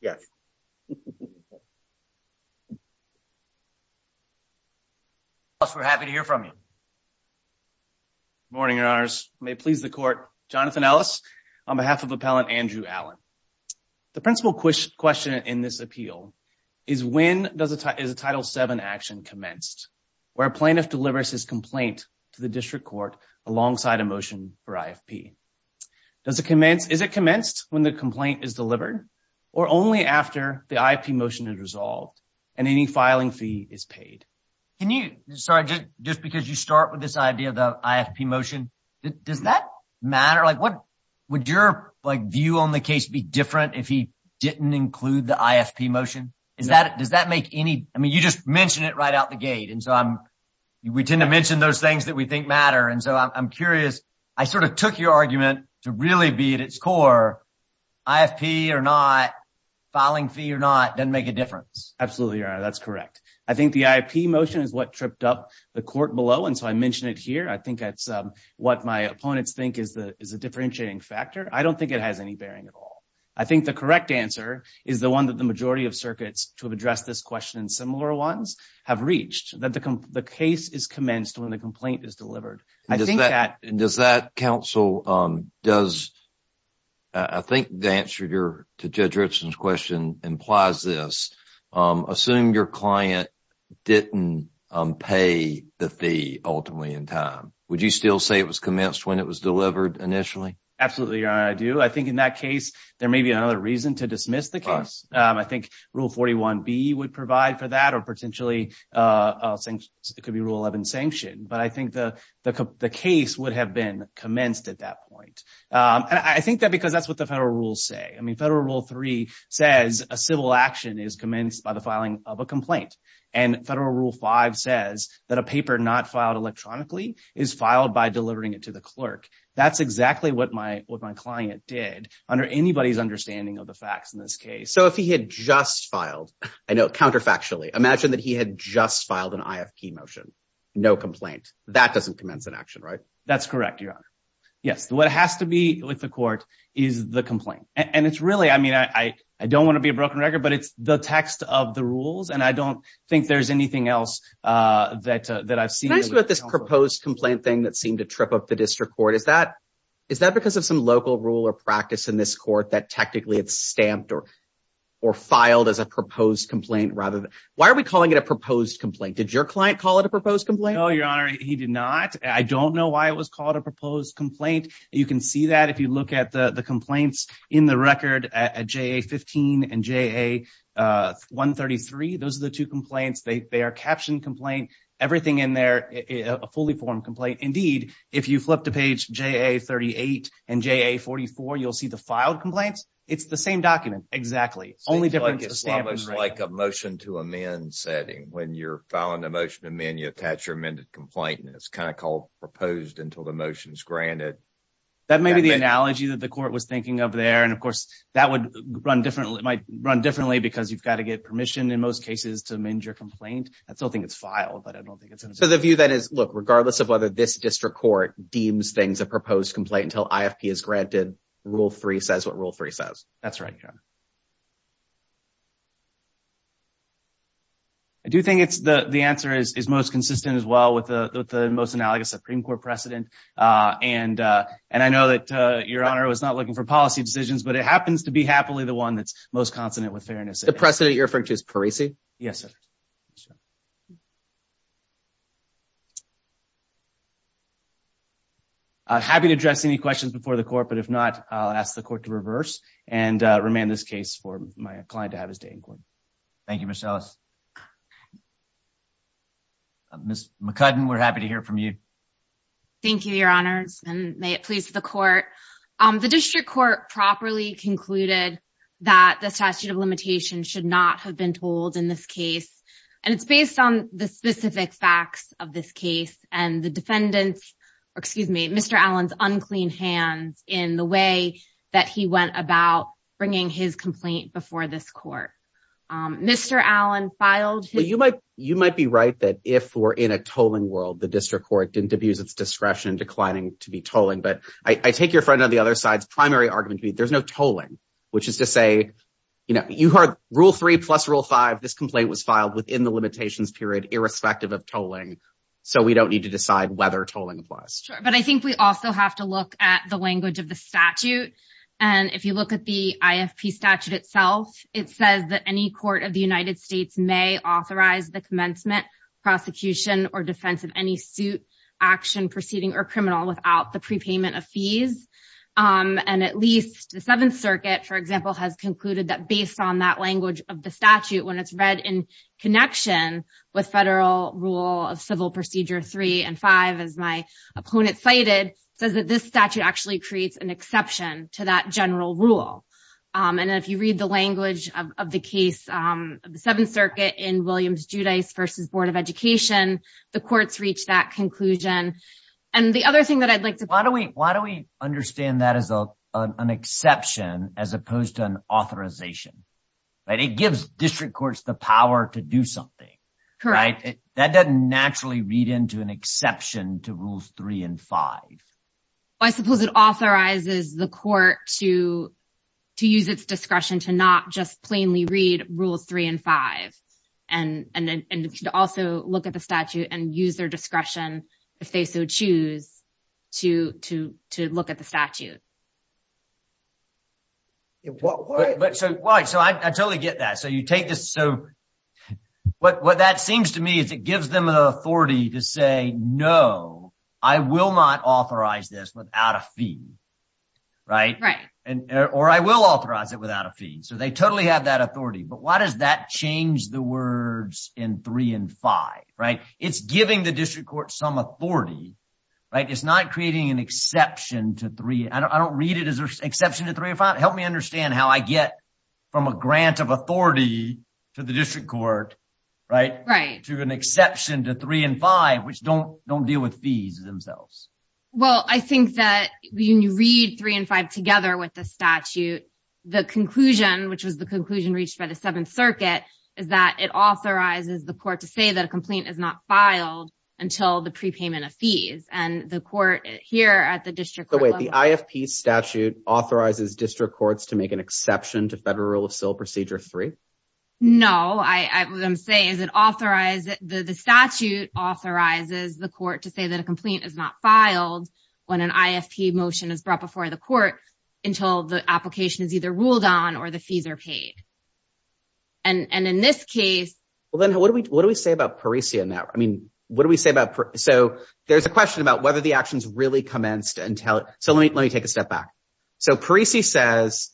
Yes. We're happy to hear from you. Morning, Your Honors. May it please the Court, Jonathan Ellis, on behalf of Appellant Andrew Allen. The principal question in this appeal is when is a Title VII action commenced, where a plaintiff delivers his complaint to the District Court alongside a motion for IFP? Is it commenced when the complaint is delivered or only after the IFP motion is resolved and any filing fee is paid? Can you – sorry, just because you start with this idea of the IFP motion, does that matter? Would your view on the case be different if he didn't include the IFP motion? Does that make any – I mean, you just mentioned it right out the gate, and so I'm – we tend to mention those things that we think matter. And so I'm curious. I sort of took your argument to really be at its core. IFP or not, filing fee or not, doesn't make a difference. Absolutely, Your Honor. That's correct. I think the IFP motion is what tripped up the Court below, and so I mention it here. I think that's what my opponents think is a differentiating factor. I don't think it has any bearing at all. I think the correct answer is the one that the majority of circuits to address this question and similar ones have reached, that the case is commenced when the complaint is delivered. I think that – Does that counsel – does – I think the answer to Judge Richland's question implies this. Assume your client didn't pay the fee ultimately in time. Would you still say it was commenced when it was delivered initially? Absolutely, Your Honor, I do. I think in that case there may be another reason to dismiss the case. I think Rule 41B would provide for that or potentially it could be Rule 11, sanction. But I think the case would have been commenced at that point. And I think that because that's what the federal rules say. I mean Federal Rule 3 says a civil action is commenced by the filing of a complaint. And Federal Rule 5 says that a paper not filed electronically is filed by delivering it to the clerk. That's exactly what my client did under anybody's understanding of the facts in this case. So if he had just filed, I know counterfactually, imagine that he had just filed an IFP motion, no complaint. That doesn't commence an action, right? That's correct, Your Honor. Yes, what has to be with the court is the complaint. And it's really – I mean I don't want to be a broken record, but it's the text of the rules and I don't think there's anything else that I've seen. Can I ask you about this proposed complaint thing that seemed to trip up the district court? Is that because of some local rule or practice in this court that technically it's stamped or filed as a proposed complaint? Why are we calling it a proposed complaint? Did your client call it a proposed complaint? No, Your Honor, he did not. I don't know why it was called a proposed complaint. You can see that if you look at the complaints in the record at JA-15 and JA-133. Those are the two complaints. They are captioned complaint. Everything in there is a fully formed complaint. Indeed, if you flip to page JA-38 and JA-44, you'll see the filed complaints. It's the same document. Exactly. It's like a motion to amend setting. When you're filing a motion to amend, you attach your amended complaint. And it's kind of called proposed until the motion is granted. That may be the analogy that the court was thinking of there. And, of course, that might run differently because you've got to get permission in most cases to amend your complaint. I still think it's filed, but I don't think it's in the statute. So the view that is, look, regardless of whether this district court deems things a proposed complaint until IFP is granted, Rule 3 says what Rule 3 says. That's right, Your Honor. I do think the answer is most consistent as well with the most analogous Supreme Court precedent. And I know that Your Honor was not looking for policy decisions, but it happens to be happily the one that's most consonant with fairness. The precedent you're referring to is Parisi? Yes, sir. I'm happy to address any questions before the court, but if not, I'll ask the court to reverse and remand this case for my client to have his day in court. Thank you, Ms. Ellis. Ms. McCudden, we're happy to hear from you. Thank you, Your Honors, and may it please the court. The district court properly concluded that the statute of limitations should not have been told in this case. And it's based on the specific facts of this case and the defendant's excuse me, Mr. Allen's unclean hands in the way that he went about bringing his complaint before this court. Mr. Allen filed. You might you might be right that if we're in a tolling world, the district court didn't abuse its discretion declining to be tolling. But I take your friend on the other side's primary argument. There's no tolling, which is to say, you know, you heard rule three plus rule five. This complaint was filed within the limitations period, irrespective of tolling. So we don't need to decide whether tolling. But I think we also have to look at the language of the statute. And if you look at the IFP statute itself, it says that any court of the United States may authorize the commencement prosecution or defense of any suit action proceeding or criminal without the prepayment of fees. And at least the Seventh Circuit, for example, has concluded that based on that language of the statute, when it's read in connection with federal rule of civil procedure three and five, as my opponent cited, says that this statute actually creates an exception to that general rule. And if you read the language of the case, the Seventh Circuit in Williams-Judice versus Board of Education, the courts reach that conclusion. And the other thing that I'd like to. Why do we why do we understand that as an exception as opposed to an authorization? But it gives district courts the power to do something. Correct. That doesn't naturally read into an exception to rules three and five. I suppose it authorizes the court to to use its discretion to not just plainly read rules three and five and then also look at the statute and use their discretion if they so choose to to to look at the statute. But so why? So I totally get that. So you take this. So what that seems to me is it gives them the authority to say, no, I will not authorize this without a fee. Right. Right. And or I will authorize it without a fee. So they totally have that authority. But why does that change the words in three and five? Right. It's giving the district court some authority. Right. It's not creating an exception to three. I don't read it as an exception to three or five. Help me understand how I get from a grant of authority to the district court. Right. Right. To an exception to three and five, which don't don't deal with fees themselves. Well, I think that when you read three and five together with the statute, the conclusion, which was the conclusion reached by the Seventh Circuit, is that it authorizes the court to say that a complaint is not filed until the prepayment of fees and the court here at the district. The way the IFP statute authorizes district courts to make an exception to federal civil procedure three. No, I would say is it authorized that the statute authorizes the court to say that a complaint is not filed when an IFP motion is brought before the court until the application is either ruled on or the fees are paid. And in this case, well, then what do we what do we say about Parisi in that? I mean, what do we say about. So there's a question about whether the actions really commenced until. So let me let me take a step back. So Parisi says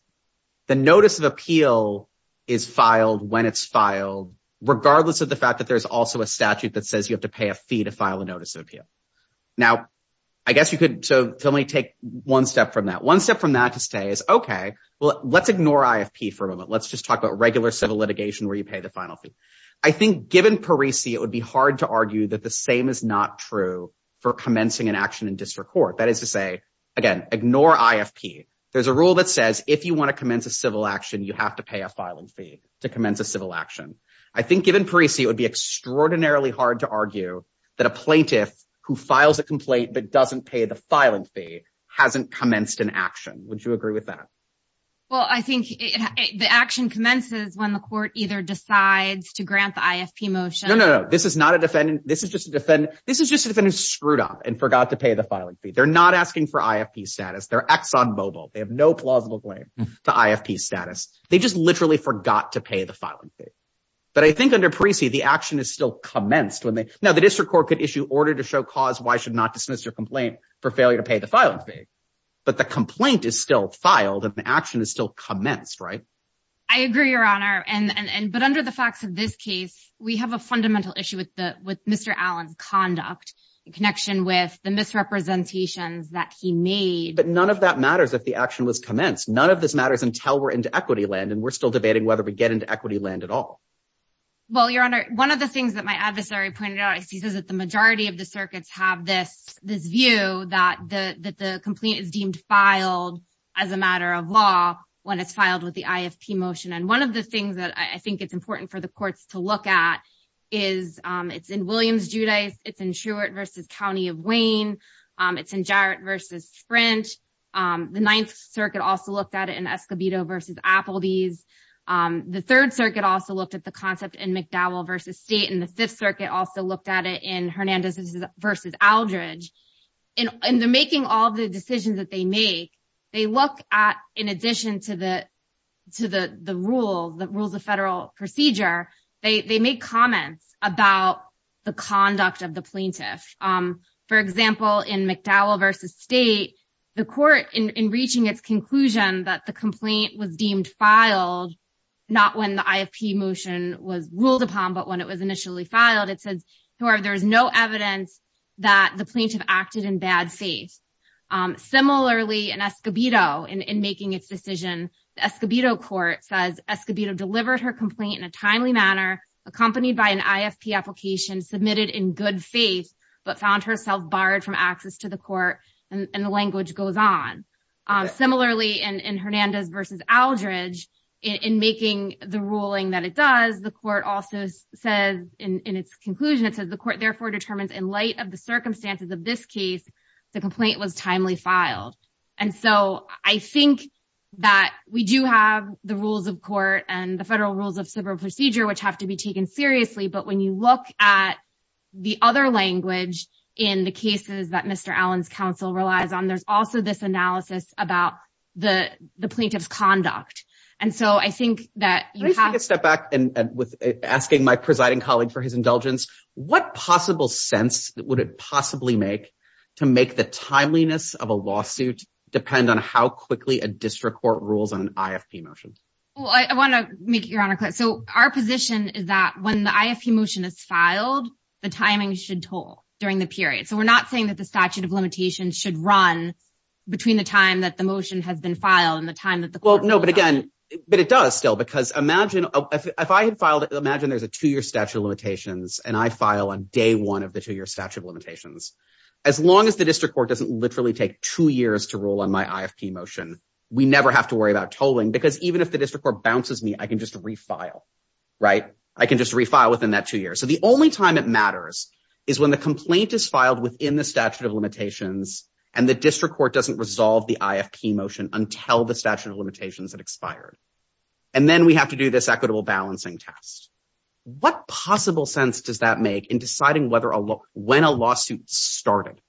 the notice of appeal is filed when it's filed, regardless of the fact that there's also a statute that says you have to pay a fee to file a notice of appeal. Now, I guess you could. So let me take one step from that. One step from that to say is, OK, well, let's ignore IFP for a moment. Let's just talk about regular civil litigation where you pay the final fee. I think given Parisi, it would be hard to argue that the same is not true for commencing an action in district court. That is to say, again, ignore IFP. There's a rule that says if you want to commence a civil action, you have to pay a filing fee to commence a civil action. I think given Parisi, it would be extraordinarily hard to argue that a plaintiff who files a complaint but doesn't pay the filing fee hasn't commenced an action. Would you agree with that? Well, I think the action commences when the court either decides to grant the IFP motion. No, no, no. This is not a defendant. This is just a defendant. This is just a defendant screwed up and forgot to pay the filing fee. They're not asking for IFP status. They're ex on mobile. They have no plausible claim to IFP status. They just literally forgot to pay the filing fee. But I think under Parisi, the action is still commenced. Now, the district court could issue order to show cause why should not dismiss your complaint for failure to pay the filing fee. But the complaint is still filed and the action is still commenced, right? I agree, Your Honor. But under the facts of this case, we have a fundamental issue with Mr. Allen's conduct in connection with the misrepresentations that he made. But none of that matters if the action was commenced. None of this matters until we're into equity land. And we're still debating whether we get into equity land at all. Well, Your Honor, one of the things that my adversary pointed out is he says that the majority of the circuits have this view that the complaint is deemed filed as a matter of law when it's filed with the IFP motion. And one of the things that I think it's important for the courts to look at is it's in Williams-Judice, it's in Truett v. County of Wayne, it's in Jarrett v. Sprint. The Ninth Circuit also looked at it in Escobedo v. Appledease. The Third Circuit also looked at the concept in McDowell v. State, and the Fifth Circuit also looked at it in Hernandez v. Aldridge. In making all the decisions that they make, they look at, in addition to the rules of federal procedure, they make comments about the conduct of the plaintiff. For example, in McDowell v. State, the court, in reaching its conclusion that the complaint was deemed filed not when the IFP motion was ruled upon, but when it was initially filed, it says, however, there is no evidence that the plaintiff acted in bad faith. Similarly, in Escobedo, in making its decision, the Escobedo court says, Escobedo delivered her complaint in a timely manner, accompanied by an IFP application, submitted in good faith, but found herself barred from access to the court, and the language goes on. Similarly, in Hernandez v. Aldridge, in making the ruling that it does, the court also says, in its conclusion, it says, the court therefore determines in light of the circumstances of this case, the complaint was timely filed. And so I think that we do have the rules of court and the federal rules of civil procedure which have to be taken seriously, but when you look at the other language in the cases that Mr. Allen's counsel relies on, there's also this analysis about the plaintiff's conduct. And so I think that you have to step back and with asking my presiding colleague for his indulgence, what possible sense would it possibly make to make the timeliness of a lawsuit depend on how quickly a district court rules on an IFP motion? Well, I want to make it, Your Honor, clear. So our position is that when the IFP motion is filed, the timing should toll during the period. So we're not saying that the statute of limitations should run between the time that the motion has been filed and the time that the court rules on it. I can just refile within that two years. So the only time it matters is when the complaint is filed within the statute of limitations and the district court doesn't resolve the IFP motion until the statute of limitations had expired. And then we have to do this equitable balancing test. What possible sense does that make in deciding when a lawsuit started?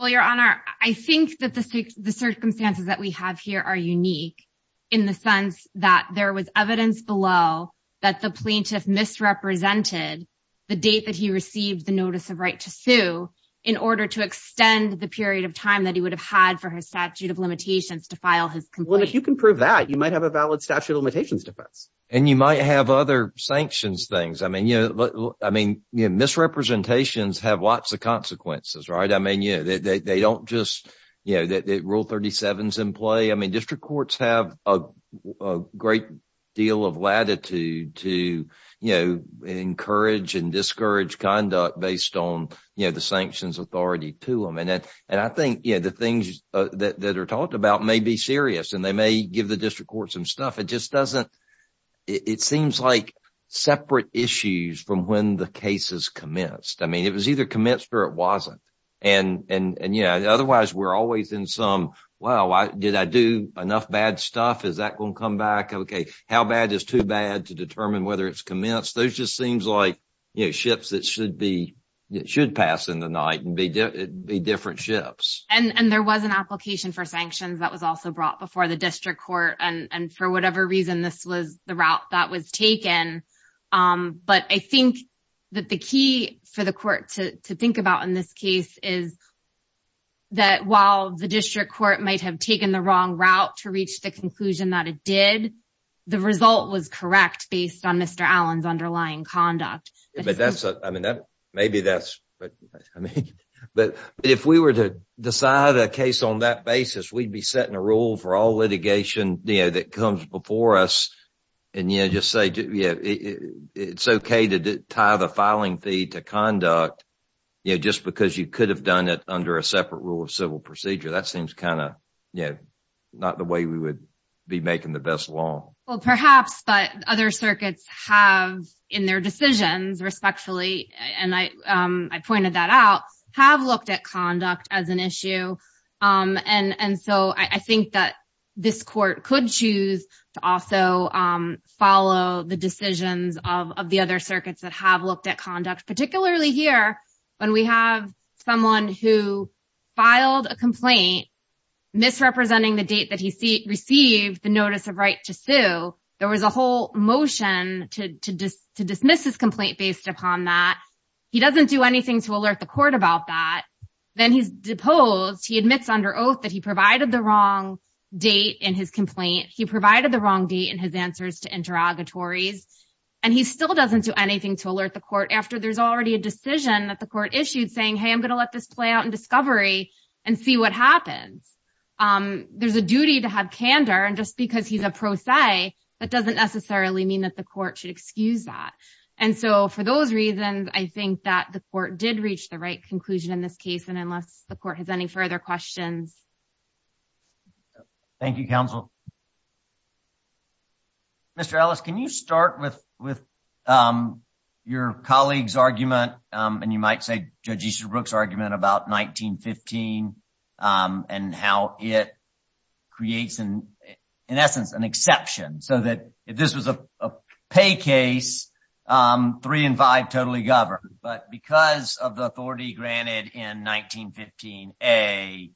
Well, Your Honor, I think that the circumstances that we have here are unique in the sense that there was evidence below that the plaintiff misrepresented the date that he received the notice of right to sue in order to extend the period of time that he would have had for his statute of limitations to file his complaint. Well, if you can prove that, you might have a valid statute of limitations defense. And you might have other sanctions things. I mean, you know, I mean, misrepresentations have lots of consequences, right? I mean, you know, they don't just, you know, that rule 37 is in play. I mean, district courts have a great deal of latitude to, you know, encourage and discourage conduct based on, you know, the sanctions authority to them. And I think, you know, the things that are talked about may be serious and they may give the district court some stuff. It just doesn't, it seems like separate issues from when the case is commenced. I mean, it was either commenced or it wasn't. And, you know, otherwise we're always in some, wow, did I do enough bad stuff? Is that going to come back? OK, how bad is too bad to determine whether it's commenced? Those just seems like ships that should be should pass in the night and be different ships. And there was an application for sanctions that was also brought before the district court. And for whatever reason, this was the route that was taken. But I think that the key for the court to think about in this case is that while the district court might have taken the wrong route to reach the conclusion that it did, the result was correct based on Mr. Allen's underlying conduct. But that's I mean, maybe that's but I mean, but if we were to decide a case on that basis, we'd be setting a rule for all litigation that comes before us. And, you know, just say, yeah, it's OK to tie the filing fee to conduct, you know, just because you could have done it under a separate rule of civil procedure. That seems kind of, you know, not the way we would be making the best law. Well, perhaps, but other circuits have in their decisions respectfully. And I pointed that out, have looked at conduct as an issue. And so I think that this court could choose to also follow the decisions of the other circuits that have looked at conduct, particularly here when we have someone who filed a complaint misrepresenting the date that he received the notice of right to sue. There was a whole motion to dismiss his complaint based upon that he doesn't do anything to alert the court about that. Then he's deposed. He admits under oath that he provided the wrong date in his complaint. He provided the wrong date in his answers to interrogatories, and he still doesn't do anything to alert the court after there's already a decision that the court issued saying, hey, I'm going to let this play out in discovery and see what happens. There's a duty to have candor. And just because he's a pro se, that doesn't necessarily mean that the court should excuse that. And so for those reasons, I think that the court did reach the right conclusion in this case. And unless the court has any further questions. Thank you, counsel. Mr. Ellis, can you start with with your colleagues argument? And you might say, Judge Easterbrook's argument about 1915 and how it creates, in essence, an exception so that if this was a pay case, three and five totally governed. But because of the authority granted in 1915, a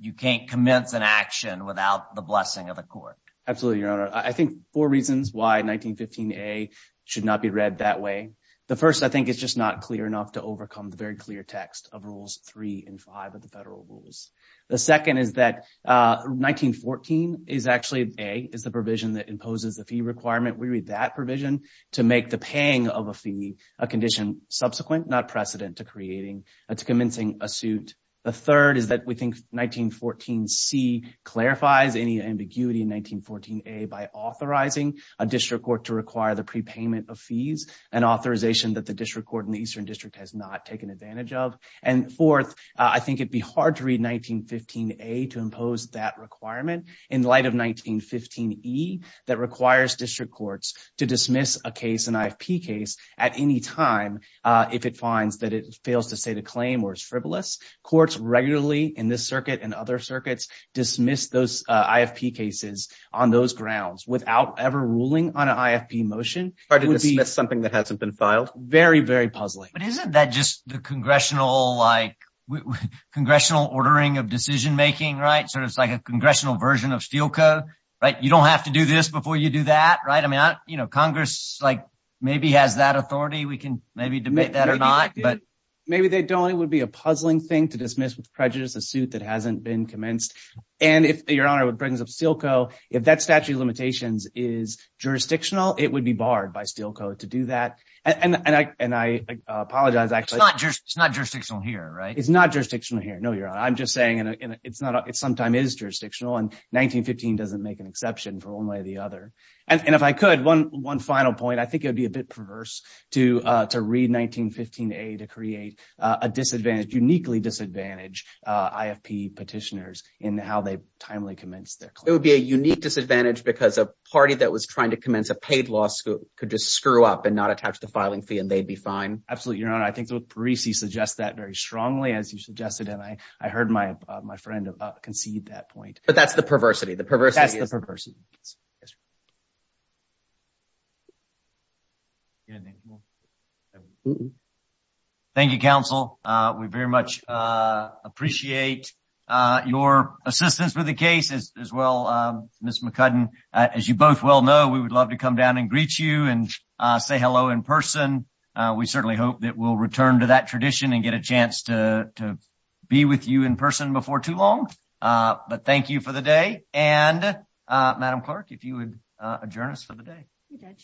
you can't commence an action without the blessing of the court. Absolutely. I think four reasons why 1915 a should not be read that way. The first, I think, is just not clear enough to overcome the very clear text of rules three and five of the federal rules. The second is that 1914 is actually a is the provision that imposes the fee requirement. We read that provision to make the paying of a fee a condition subsequent, not precedent to creating a to commencing a suit. The third is that we think 1914 C clarifies any ambiguity in 1914 a by authorizing a district court to require the prepayment of fees and authorization that the district court in the Eastern District has not taken advantage of. And fourth, I think it'd be hard to read 1915 a to impose that requirement in light of 1915 e that requires district courts to dismiss a case, an IFP case at any time. If it finds that it fails to state a claim or is frivolous, courts regularly in this circuit and other circuits dismiss those IFP cases on those grounds without ever ruling on an IFP motion or to dismiss something that hasn't been filed. Very, very puzzling. But isn't that just the congressional like congressional ordering of decision making? Right. So it's like a congressional version of steel code. Right. You don't have to do this before you do that. Right. I mean, you know, Congress like maybe has that authority. We can maybe debate that or not. But maybe they don't. It would be a puzzling thing to dismiss with prejudice a suit that hasn't been commenced. And if your honor would brings up Stilco, if that statute of limitations is jurisdictional, it would be barred by steel code to do that. And I and I apologize. It's not just it's not jurisdictional here. Right. It's not jurisdictional here. No, you're I'm just saying it's not. It's sometime is jurisdictional. And 1915 doesn't make an exception for one way or the other. And if I could, one one final point, I think it would be a bit perverse to to read 1915 to create a disadvantage, uniquely disadvantage IFP petitioners in how they timely commence their. It would be a unique disadvantage because a party that was trying to commence a paid law school could just screw up and not attach the filing fee and they'd be fine. Absolutely. I think that would suggest that very strongly, as you suggested. And I heard my my friend concede that point. But that's the perversity. The perversity is the perversity. Thank you, counsel. We very much appreciate your assistance with the case as well. Miss McCudden, as you both well know, we would love to come down and greet you and say hello in person. We certainly hope that we'll return to that tradition and get a chance to to be with you in person before too long. But thank you for the day. And Madam Clerk, if you would adjourn us for the day.